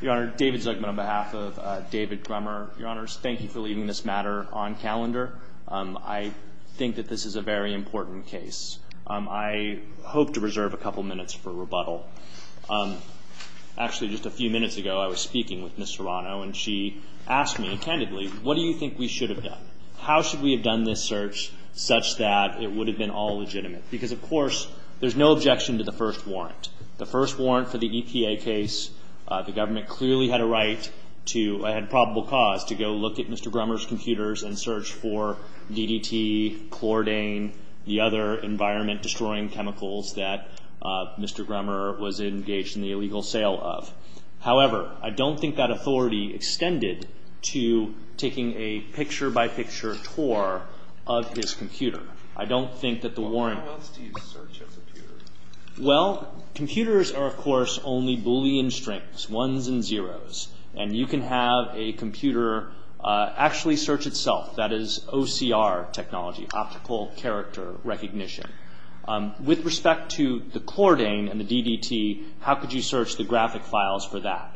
Your Honor, David Zuckman on behalf of David Grummer. Your Honors, thank you for leaving this matter on calendar. I think that this is a very important case. I hope to reserve a couple minutes for rebuttal. Actually, just a few minutes ago I was speaking with Ms. Serrano and she asked me candidly, what do you think we should have done? How should we have done this search such that it would have been all legitimate? Because, of course, there's no objection to the first warrant. The first warrant for the EPA case, the government clearly had a right to, had probable cause to go look at Mr. Grummer's computers and search for DDT, Chlordane, the other environment-destroying chemicals that Mr. Grummer was engaged in the illegal sale of. However, I don't think that authority extended to taking a picture-by-picture tour of his computer. I don't think that the warrant... Well, computers are, of course, only Boolean strings, ones and zeros. And you can have a computer actually search itself. That is OCR technology, optical character recognition. With respect to the Chlordane and the DDT, how could you search the graphic files for that?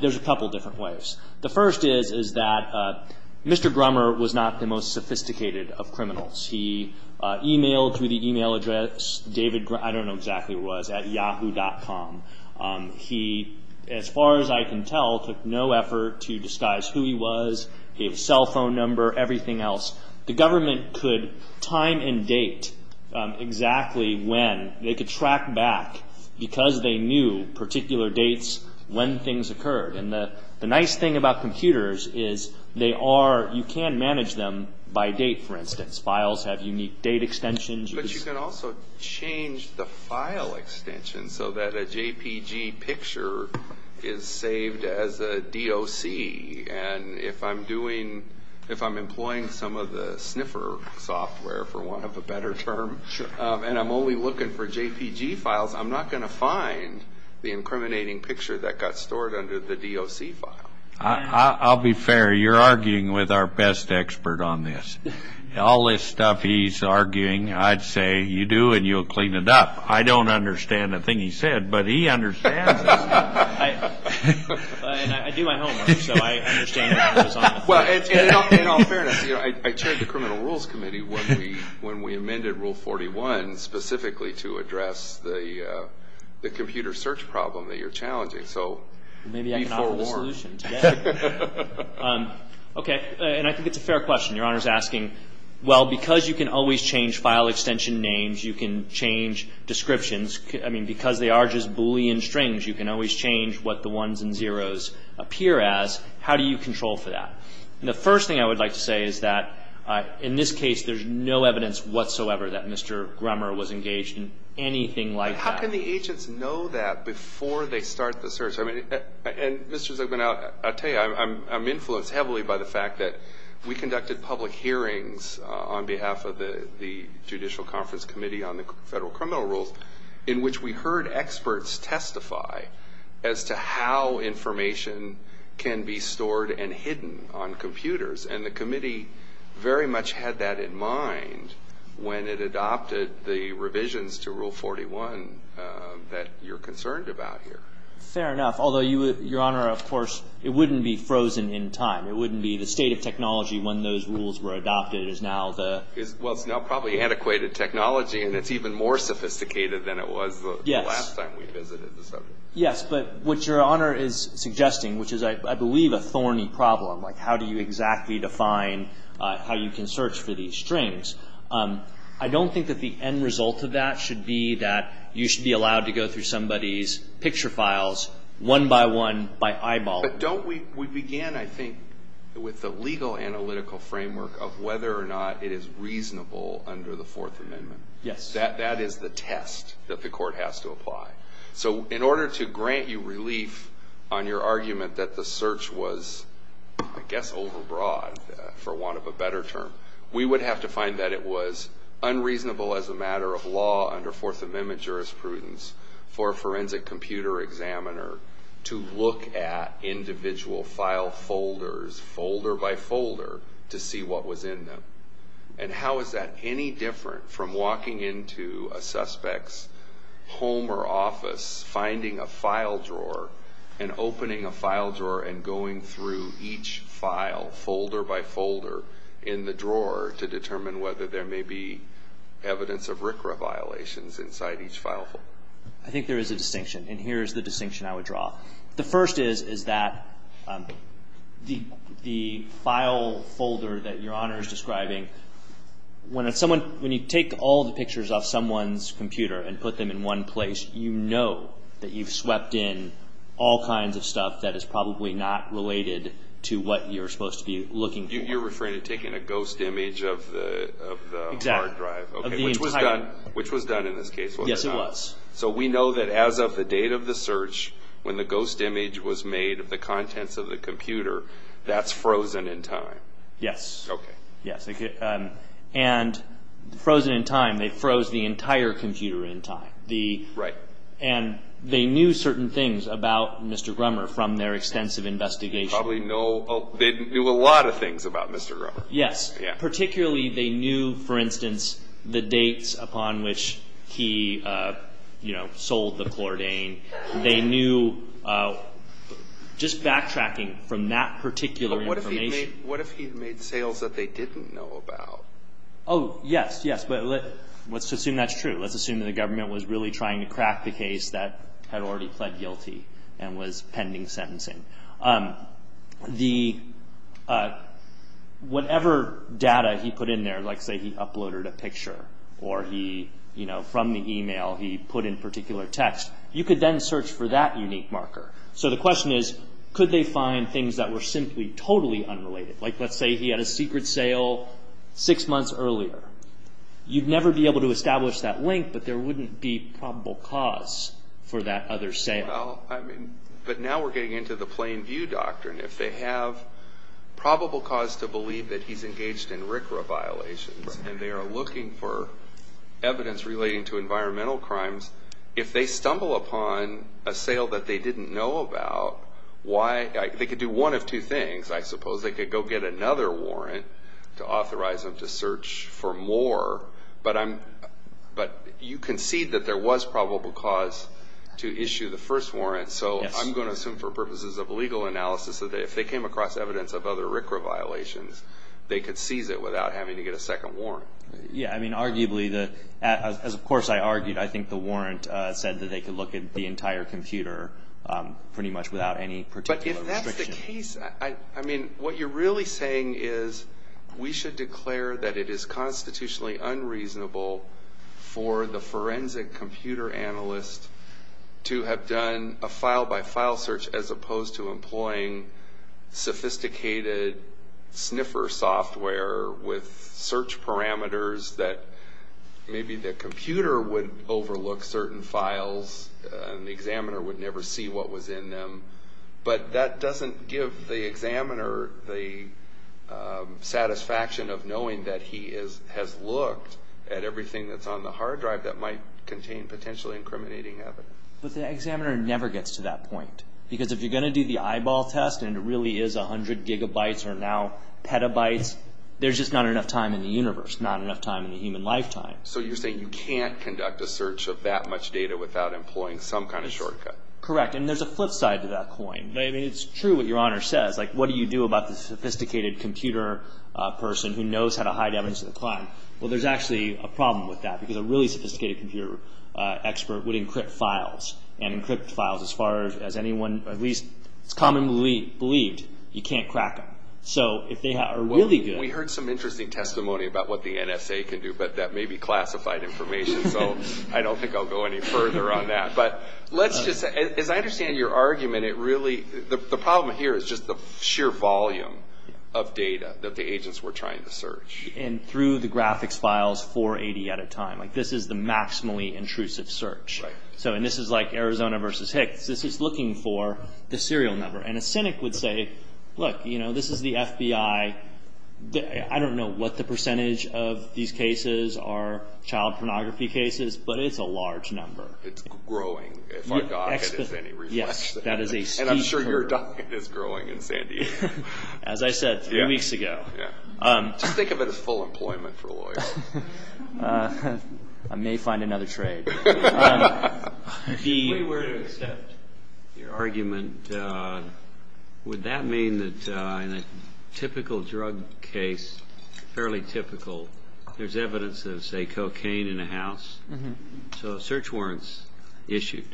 There's a couple different ways. The first is that Mr. Grummer was not the most sophisticated of criminals. He emailed through the email address, David, I don't know exactly where it was, at yahoo.com. He, as far as I can tell, took no effort to disguise who he was. He had a cell phone number, everything else. The government could time and date exactly when. They could track back because they knew particular dates when things occurred. And the nice thing about computers is you can manage them by date, for instance. Files have unique date extensions. But you can also change the file extension so that a JPG picture is saved as a DOC. And if I'm employing some of the sniffer software, for want of a better term, and I'm only looking for JPG files, I'm not going to find the incriminating picture that got stored under the DOC file. I'll be fair, you're arguing with our best expert on this. All this stuff he's arguing, I'd say you do and you'll clean it up. I don't understand a thing he said, but he understands it. I do my homework, so I understand what he was on about. In all fairness, I chaired the Criminal Rules Committee when we amended Rule 41 specifically to address the computer search problem that you're challenging. So be forewarned. Okay. And I think it's a fair question. Your Honor is asking, well, because you can always change file extension names, you can change descriptions. I mean, because they are just Boolean strings, you can always change what the ones and zeros appear as. How do you control for that? And the first thing I would like to say is that in this case, there's no evidence whatsoever that Mr. Grummer was engaged in anything like that. How can the agents know that before they start the search? And Mr. Zucman, I'll tell you, I'm influenced heavily by the fact that we conducted public hearings on behalf of the Judicial Conference Committee on the Federal Criminal Rules in which we heard experts testify as to how information can be stored and hidden on computers. And the committee very much had that in mind when it adopted the revisions to Rule 41 that you're concerned about here. Fair enough. Although, Your Honor, of course, it wouldn't be frozen in time. It wouldn't be the state of technology when those rules were adopted is now the — Well, it's now probably antiquated technology, and it's even more sophisticated than it was the last time we visited the subject. Yes, but what Your Honor is suggesting, which is, I believe, a thorny problem, like how do you exactly define how you can search for these strings, I don't think that the end result of that should be that you should be allowed to go through somebody's picture files one by one by eyeball. But don't we — we began, I think, with the legal analytical framework of whether or not it is reasonable under the Fourth Amendment. Yes. That is the test that the court has to apply. So in order to grant you relief on your argument that the search was, I guess, overbroad, for want of a better term, we would have to find that it was unreasonable as a matter of law under Fourth Amendment jurisprudence for a forensic computer examiner to look at individual file folders, folder by folder, to see what was in them. And how is that any different from walking into a suspect's home or office, finding a file drawer, and opening a file drawer and going through each file folder by folder in the drawer to determine whether there may be evidence of RCRA violations inside each file folder? I think there is a distinction. And here is the distinction I would draw. The first is, is that the file folder that Your Honor is describing, when someone — when you take all the pictures off someone's computer and put them in one place, you know that you've swept in all kinds of stuff that is probably not related to what you're supposed to be looking for. You're referring to taking a ghost image of the hard drive. Exactly. Of the entire — Which was done in this case. Yes, it was. So we know that as of the date of the search, when the ghost image was made of the contents of the computer, that's frozen in time. Yes. Okay. Yes. And frozen in time, they froze the entire computer in time. Right. And they knew certain things about Mr. Grummer from their extensive investigation. Probably know — they knew a lot of things about Mr. Grummer. Yes. Particularly, they knew, for instance, the dates upon which he, you know, sold the Chlordane. They knew — just backtracking from that particular information. But what if he made — what if he made sales that they didn't know about? Oh, yes, yes. But let's assume that's true. Let's assume that the government was really trying to crack the case that had already pled guilty and was pending sentencing. The — whatever data he put in there, like, say, he uploaded a picture or he, you know, from the email he put in particular text, you could then search for that unique marker. So the question is, could they find things that were simply totally unrelated? Like, let's say he had a secret sale six months earlier. You'd never be able to establish that link, but there wouldn't be probable cause for that other sale. Well, I mean, but now we're getting into the plain view doctrine. If they have probable cause to believe that he's engaged in RCRA violations and they are looking for evidence relating to environmental crimes, if they stumble upon a sale that they didn't know about, why — they could do one of two things, I suppose. They could go get another warrant to authorize them to search for more. But I'm — but you concede that there was probable cause to issue the first warrant. So I'm going to assume for purposes of legal analysis that if they came across evidence of other RCRA violations, they could seize it without having to get a second warrant. Yeah. I mean, arguably, as of course I argued, I think the warrant said that they could look at the entire computer pretty much without any particular restriction. I mean, what you're really saying is we should declare that it is constitutionally unreasonable for the forensic computer analyst to have done a file-by-file search as opposed to employing sophisticated sniffer software with search parameters that maybe the computer would overlook certain files and the examiner would never see what was in them. But that doesn't give the examiner the satisfaction of knowing that he has looked at everything that's on the hard drive that might contain potentially incriminating evidence. But the examiner never gets to that point. Because if you're going to do the eyeball test and it really is 100 gigabytes or now petabytes, there's just not enough time in the universe, not enough time in the human lifetime. So you're saying you can't conduct a search of that much data without employing some kind of shortcut. Correct. And there's a flip side to that coin. I mean, it's true what Your Honor says. Like, what do you do about the sophisticated computer person who knows how to hide evidence of the crime? Well, there's actually a problem with that because a really sophisticated computer expert would encrypt files. And encrypted files, as far as anyone at least commonly believed, you can't crack them. So if they are really good... We heard some interesting testimony about what the NSA can do, but that may be classified information. So I don't think I'll go any further on that. But let's just say, as I understand your argument, the problem here is just the sheer volume of data that the agents were trying to search. And through the graphics files, 480 at a time. Like, this is the maximally intrusive search. Right. And this is like Arizona versus Hicks. This is looking for the serial number. And a cynic would say, look, this is the FBI. I don't know what the percentage of these cases are child pornography cases, but it's a large number. It's growing. If our docket has any reflexes. Yes. And I'm sure your docket is growing in San Diego. As I said three weeks ago. Just think of it as full employment for lawyers. I may find another trade. If we were to accept your argument, would that mean that in a typical drug case, fairly typical, there's evidence of, say, cocaine in a house? So search warrants issued.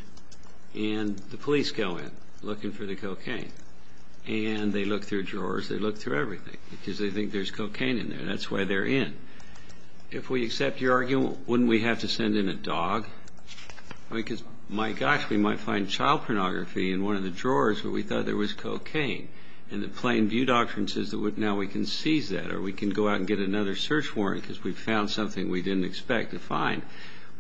And the police go in looking for the cocaine. And they look through drawers. They look through everything because they think there's cocaine in there. That's why they're in. If we accept your argument, wouldn't we have to send in a dog? Because, my gosh, we might find child pornography in one of the drawers where we thought there was cocaine. And the plain view doctrine says that now we can seize that or we can go out and get another search warrant because we found something we didn't expect to find.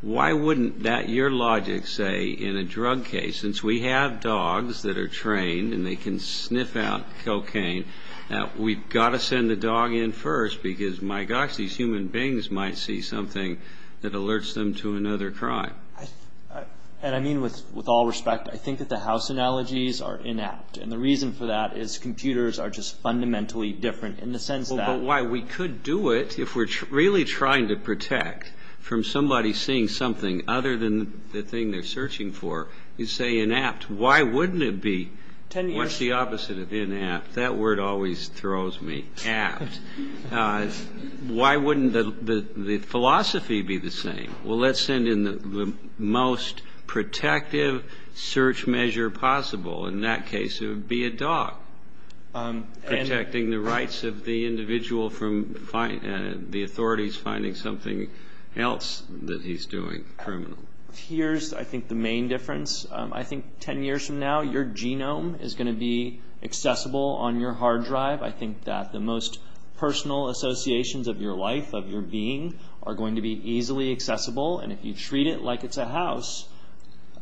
Why wouldn't that year logic say in a drug case, since we have dogs that are trained and they can sniff out cocaine, that we've got to send the dog in first because, my gosh, these human beings might see something that alerts them to another crime? And I mean with all respect. I think that the house analogies are inapt. And the reason for that is computers are just fundamentally different in the sense that. But why we could do it if we're really trying to protect from somebody seeing something other than the thing they're searching for. You say inapt. Why wouldn't it be? What's the opposite of inapt? That word always throws me. Apt. Why wouldn't the philosophy be the same? Well, let's send in the most protective search measure possible. In that case, it would be a dog. Protecting the rights of the individual from the authorities finding something else that he's doing, criminal. Here's, I think, the main difference. I think 10 years from now, your genome is going to be accessible on your hard drive. I think that the most personal associations of your life, of your being, are going to be easily accessible. And if you treat it like it's a house,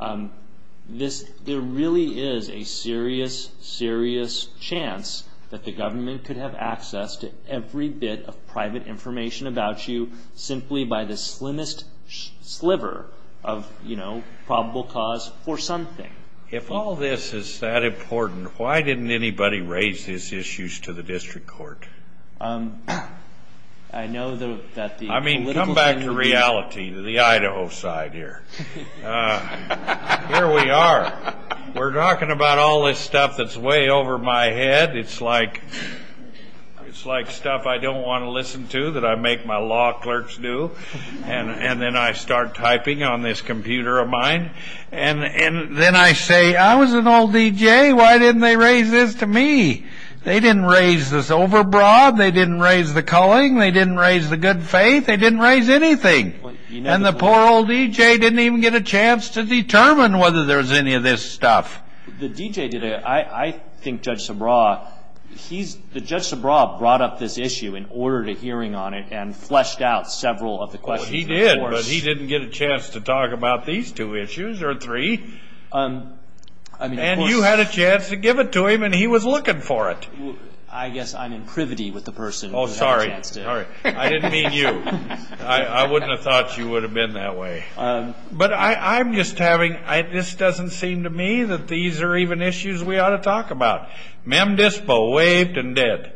there really is a serious, serious chance that the government could have access to every bit of private information about you simply by the slimmest sliver of probable cause for something. If all this is that important, why didn't anybody raise these issues to the district court? I mean, come back to reality, to the Idaho side here. Here we are. We're talking about all this stuff that's way over my head. It's like stuff I don't want to listen to that I make my law clerks do. And then I start typing on this computer of mine. And then I say, I was an old DJ. Why didn't they raise this to me? They didn't raise this over broad. They didn't raise the culling. They didn't raise the good faith. They didn't raise anything. And the poor old DJ didn't even get a chance to determine whether there was any of this stuff. The DJ did it. I think Judge Subraw, he's, Judge Subraw brought up this issue and ordered a hearing on it and fleshed out several of the questions. He did, but he didn't get a chance to talk about these two issues or three. And you had a chance to give it to him, and he was looking for it. I guess I'm in privity with the person who didn't have a chance to. Oh, sorry. I didn't mean you. I wouldn't have thought you would have been that way. But I'm just having, this doesn't seem to me that these are even issues we ought to talk about. Mem Dispo waved and did.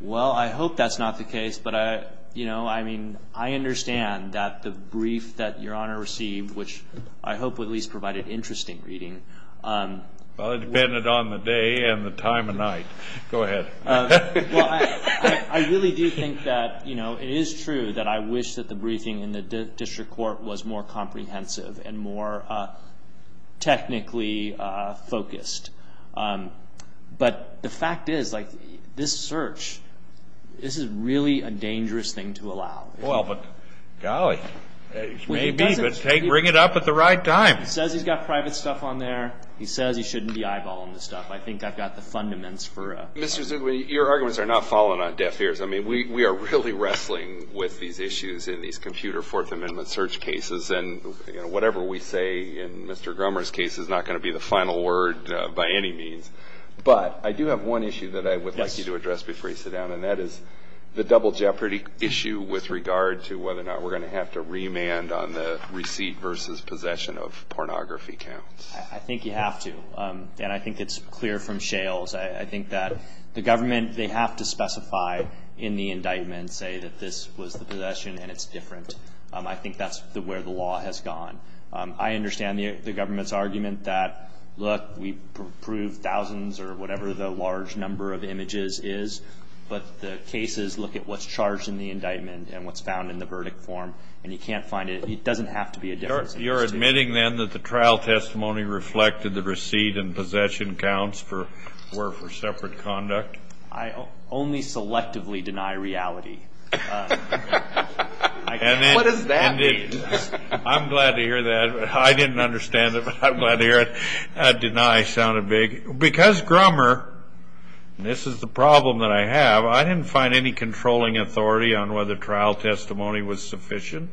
Well, I hope that's not the case. But, you know, I mean, I understand that the brief that Your Honor received, which I hope at least provided interesting reading. Well, it depended on the day and the time of night. Go ahead. Well, I really do think that, you know, it is true that I wish that the briefing in the district court was more comprehensive and more technically focused. But the fact is, like, this search, this is really a dangerous thing to allow. Well, but golly, maybe, but bring it up at the right time. He says he's got private stuff on there. He says he shouldn't be eyeballing the stuff. I think I've got the fundaments for a. Mr. Zugle, your arguments are not falling on deaf ears. I mean, we are really wrestling with these issues in these computer Fourth Amendment search cases. And whatever we say in Mr. Grummer's case is not going to be the final word by any means. But I do have one issue that I would like you to address before you sit down, and that is the double jeopardy issue with regard to whether or not we're going to have to remand on the receipt versus possession of pornography counts. I think you have to. And I think it's clear from Shales. I think that the government, they have to specify in the indictment, say, that this was the possession and it's different. I think that's where the law has gone. I understand the government's argument that, look, we prove thousands or whatever the large number of images is, but the cases look at what's charged in the indictment and what's found in the verdict form. And you can't find it. It doesn't have to be a difference. You're admitting then that the trial testimony reflected the receipt and possession counts were for separate conduct? I only selectively deny reality. What does that mean? I'm glad to hear that. I didn't understand it, but I'm glad to hear it. Deny sounded big. Because Grummer, and this is the problem that I have, I didn't find any controlling authority on whether trial testimony was sufficient.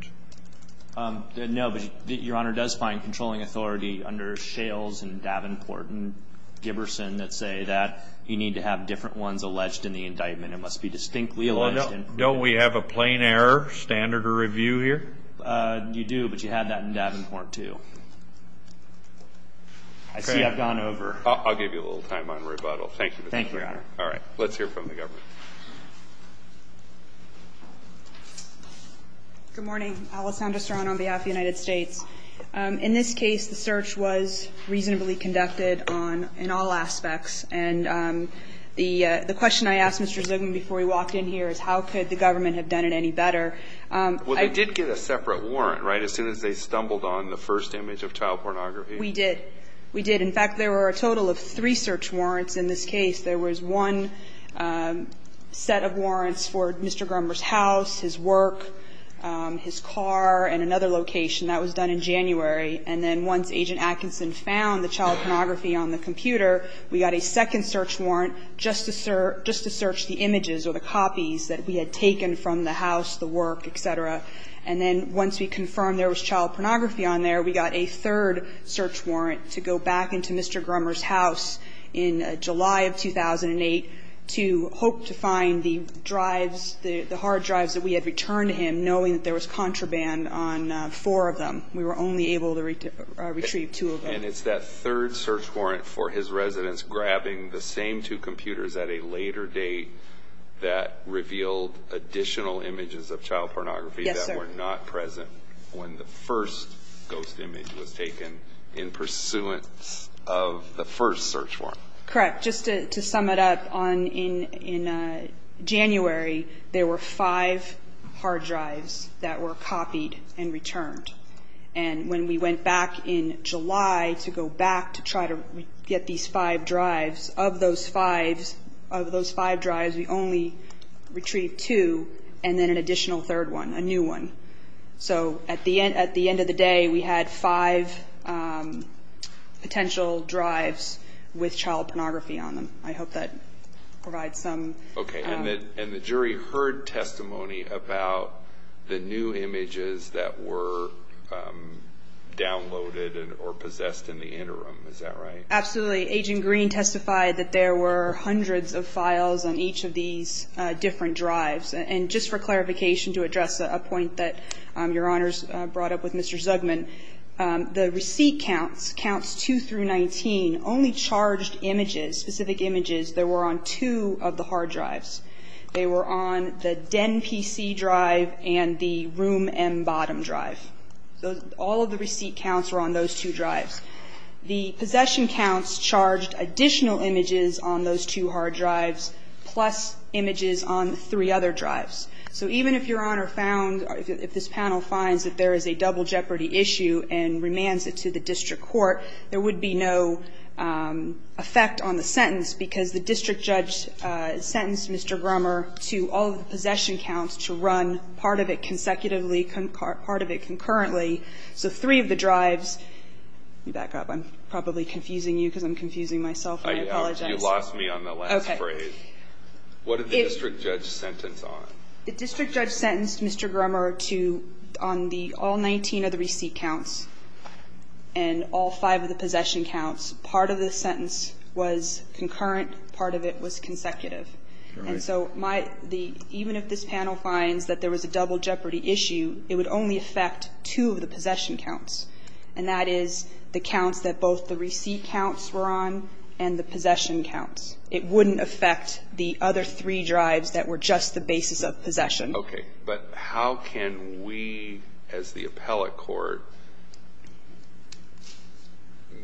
No, but Your Honor, does find controlling authority under Shales and Davenport and Giberson that say that you need to have different ones alleged in the indictment. It must be distinctly alleged. Don't we have a plain error standard of review here? You do, but you had that in Davenport, too. I see I've gone over. I'll give you a little time on rebuttal. Thank you. Thank you, Your Honor. All right. Let's hear from the government. Good morning. Alessandra Serrano on behalf of the United States. In this case, the search was reasonably conducted in all aspects, and the question I asked Mr. Zubin before he walked in here is how could the government have done it any better? Well, they did get a separate warrant, right, as soon as they stumbled on the first image of child pornography? We did. We did. In fact, there were a total of three search warrants in this case. There was one set of warrants for Mr. Grummer's house, his work, his car, and another location. That was done in January. And then once Agent Atkinson found the child pornography on the computer, we got a second search warrant just to search the images or the copies that we had taken from the house, the work, et cetera. And then once we confirmed there was child pornography on there, we got a third search warrant to go back into Mr. Grummer's house in July of 2008 to hope to find the drives, the hard drives that we had returned to him, knowing that there was contraband on four of them. We were only able to retrieve two of them. And it's that third search warrant for his residence grabbing the same two computers at a later date that revealed additional images of child pornography that were not present when the first ghost image was taken in pursuance of the first search warrant. Correct. Just to sum it up, in January there were five hard drives that were copied and returned. And when we went back in July to go back to try to get these five drives, of those five drives we only retrieved two and then an additional third one, a new one. So at the end of the day we had five potential drives with child pornography on them. I hope that provides some. Okay. And the jury heard testimony about the new images that were downloaded or possessed in the interim. Is that right? Absolutely. Agent Green testified that there were hundreds of files on each of these different drives. And just for clarification to address a point that Your Honors brought up with Mr. Zugman, the receipt counts, counts 2 through 19, only charged images, specific images that were on two of the hard drives. They were on the Den PC drive and the Room M Bottom drive. All of the receipt counts were on those two drives. The possession counts charged additional images on those two hard drives plus images on three other drives. So even if Your Honor found, if this panel finds that there is a double jeopardy issue and remands it to the district court, there would be no effect on the sentence because the district judge sentenced Mr. Grummer to all of the possession counts to run part of it consecutively, part of it concurrently. So three of the drives, let me back up. I'm probably confusing you because I'm confusing myself. I apologize. You lost me on the last phrase. Okay. What did the district judge sentence on? The district judge sentenced Mr. Grummer to on the all 19 of the receipt counts and all five of the possession counts, part of the sentence was concurrent, part of it was consecutive. And so my, the, even if this panel finds that there was a double jeopardy issue, it would only affect two of the possession counts. And that is the counts that both the receipt counts were on and the possession counts. It wouldn't affect the other three drives that were just the basis of possession. Okay. But how can we, as the appellate court,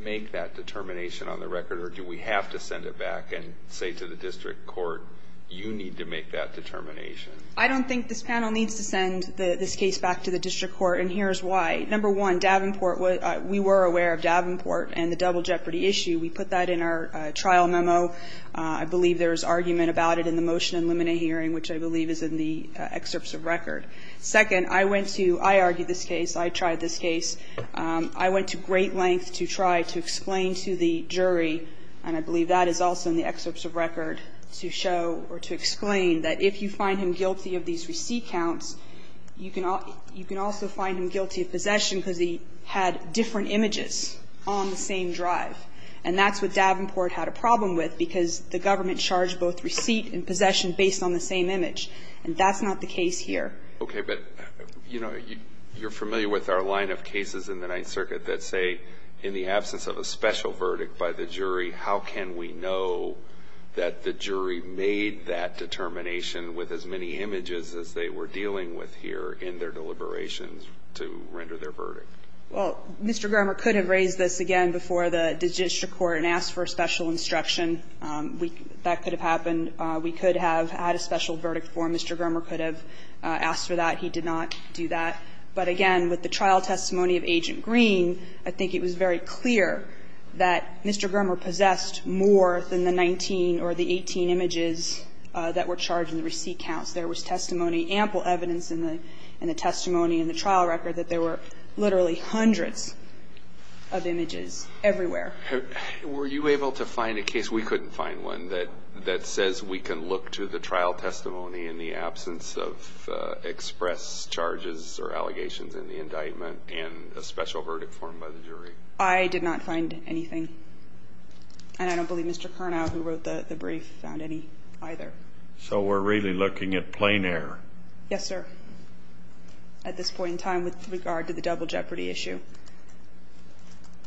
make that determination on the record? Or do we have to send it back and say to the district court, you need to make that determination? I don't think this panel needs to send this case back to the district court. And here's why. Number one, Davenport, we were aware of Davenport and the double jeopardy issue. We put that in our trial memo. I believe there was argument about it in the motion in limine hearing, which I believe is in the excerpts of record. Second, I went to, I argued this case. I tried this case. I went to great length to try to explain to the jury, and I believe that is also in the excerpts of record, to show or to explain that if you find him guilty of these receipt counts, you can also find him guilty of possession because he had different images on the same drive. And that's what Davenport had a problem with because the government charged both receipt and possession based on the same image. And that's not the case here. Okay. But, you know, you're familiar with our line of cases in the Ninth Circuit that say in the absence of a special verdict by the jury, how can we know that the jury made that determination with as many images as they were dealing with here in their deliberations to render their verdict? Well, Mr. Germer could have raised this again before the district court and asked for a special instruction. That could have happened. We could have had a special verdict for him. Mr. Germer could have asked for that. He did not do that. But again, with the trial testimony of Agent Green, I think it was very clear that Mr. Germer possessed more than the 19 or the 18 images that were charged in the receipt counts. There was testimony, ample evidence in the testimony in the trial record that there were literally hundreds of images everywhere. Were you able to find a case? We couldn't find one that says we can look to the trial testimony in the absence of express charges or allegations in the indictment and a special verdict for him by the jury. I did not find anything. And I don't believe Mr. Carnow, who wrote the brief, found any either. So we're really looking at plain air. Yes, sir. Thank you. At this point in time, with regard to the double jeopardy issue.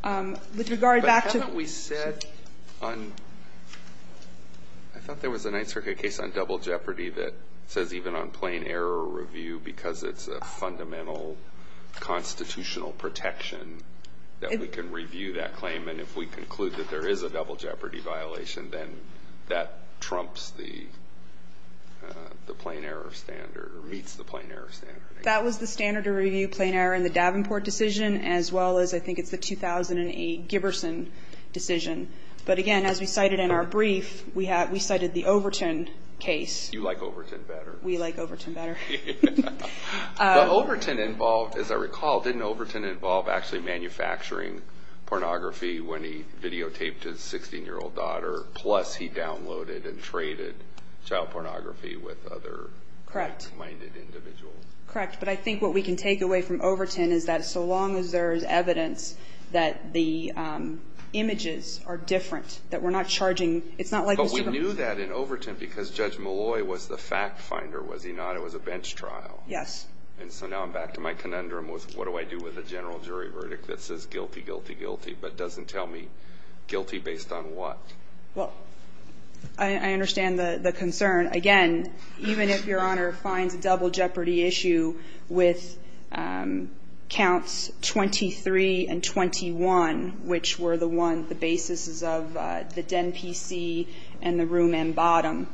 With regard back to the issue. But haven't we said on – I thought there was a Ninth Circuit case on double jeopardy that says even on plain error review, because it's a fundamental constitutional protection, that we can review that claim. And if we conclude that there is a double jeopardy violation, then that trumps the plain error standard, or meets the plain error standard. That was the standard to review plain error in the Davenport decision, as well as I think it's the 2008 Giberson decision. But, again, as we cited in our brief, we cited the Overton case. You like Overton better. We like Overton better. But Overton involved, as I recall, didn't Overton involve actually manufacturing pornography when he videotaped his 16-year-old daughter? Plus he downloaded and traded child pornography with other. Correct. Minded individuals. Correct. But I think what we can take away from Overton is that so long as there is evidence that the images are different, that we're not charging – it's not like we're – But we knew that in Overton because Judge Malloy was the fact finder, was he not? It was a bench trial. Yes. And so now I'm back to my conundrum with what do I do with a general jury verdict that says guilty, guilty, guilty, but doesn't tell me guilty based on what? Well, I understand the concern. Again, even if Your Honor finds a double jeopardy issue with counts 23 and 21, which were the one, the basis is of the Den P.C. and the Room M. Bottom,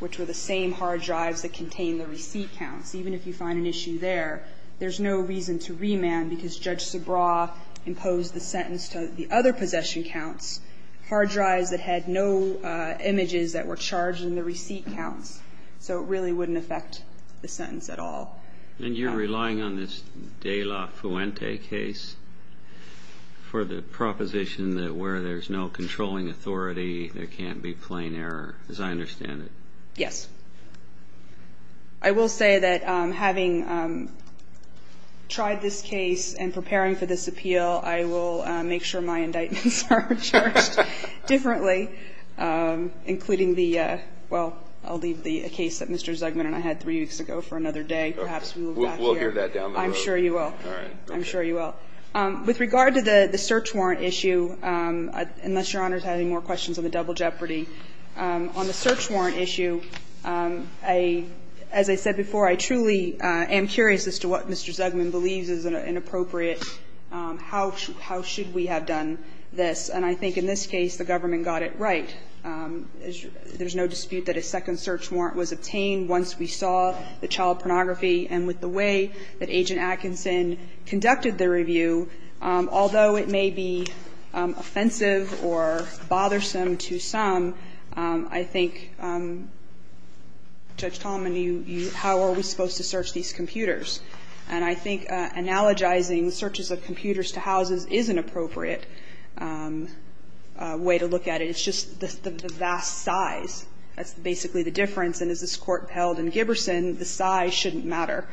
which were the same hard drives that contain the receipt counts, even if you find an issue there, there's no reason to remand because Judge Subraw imposed the sentence to the other possession counts, hard drives that had no images that were charged in the receipt counts. So it really wouldn't affect the sentence at all. And you're relying on this De La Fuente case for the proposition that where there's no controlling authority, there can't be plain error, as I understand it. Yes. I will say that having tried this case and preparing for this appeal, I will make sure my indictments are charged differently, including the – well, I'll leave the case that Mr. Zugman and I had three weeks ago for another day. Perhaps we'll move back here. We'll hear that down the road. I'm sure you will. All right. I'm sure you will. With regard to the search warrant issue, unless Your Honor is having more questions on the double jeopardy, on the search warrant issue, I – as I said before, I truly am curious as to what Mr. Zugman believes is inappropriate. How should we have done this? And I think in this case, the government got it right. There's no dispute that a second search warrant was obtained once we saw the child pornography. And with the way that Agent Atkinson conducted the review, although it may be offensive or bothersome to some, I think, Judge Tallman, you – how are we supposed to search these computers? And I think analogizing searches of computers to houses is an appropriate way to look at it. It's just the vast size. That's basically the difference. And as this Court held in Giberson, the size shouldn't matter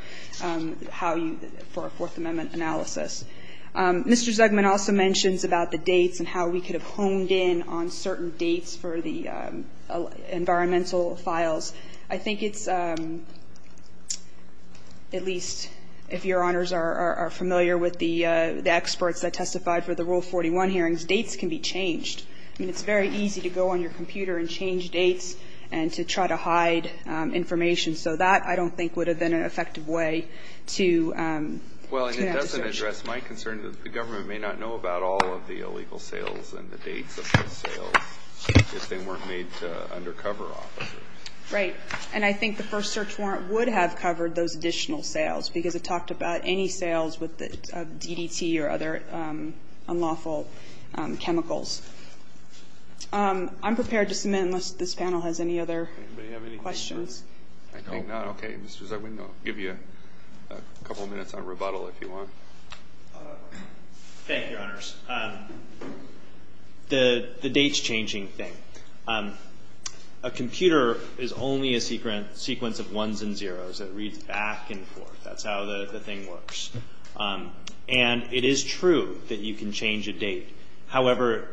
how you – for a Fourth Amendment analysis. Mr. Zugman also mentions about the dates and how we could have honed in on certain dates for the environmental files. I think it's – at least if Your Honors are familiar with the experts that testified for the Rule 41 hearings, dates can be changed. I mean, it's very easy to go on your computer and change dates and to try to hide information. So that, I don't think, would have been an effective way to do that search. Well, and it doesn't address my concern that the government may not know about all of the illegal sales and the dates of those sales if they weren't made to undercover officers. Right. And I think the first search warrant would have covered those additional sales because it talked about any sales with the DDT or other unlawful chemicals. I'm prepared to submit unless this panel has any other questions. Anybody have any questions? I think not. Okay. Mr. Zugman, I'll give you a couple minutes on rebuttal if you want. Thank you, Your Honors. The dates-changing thing. A computer is only a sequence of ones and zeros. It reads back and forth. That's how the thing works. And it is true that you can change a date. However,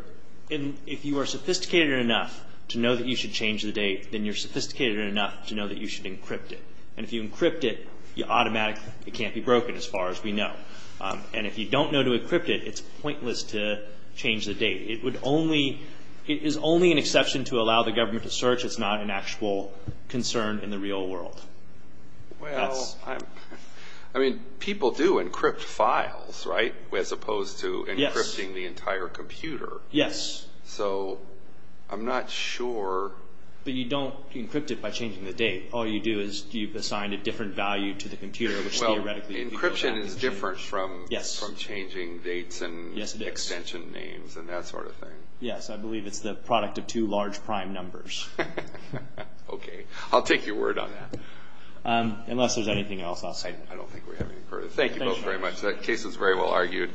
if you are sophisticated enough to know that you should change the date, then you're sophisticated enough to know that you should encrypt it. And if you encrypt it, you automatically can't be broken as far as we know. And if you don't know to encrypt it, it's pointless to change the date. It is only an exception to allow the government to search. It's not an actual concern in the real world. Well, I mean, people do encrypt files, right, as opposed to encrypting the entire computer. Yes. So I'm not sure. But you don't encrypt it by changing the date. All you do is you assign a different value to the computer, which theoretically people don't do. Encryption is different from changing dates and extension names and that sort of thing. Yes, I believe it's the product of two large prime numbers. Okay, I'll take your word on that. Unless there's anything else I'll say. I don't think we have any further. Thank you both very much. That case was very well argued.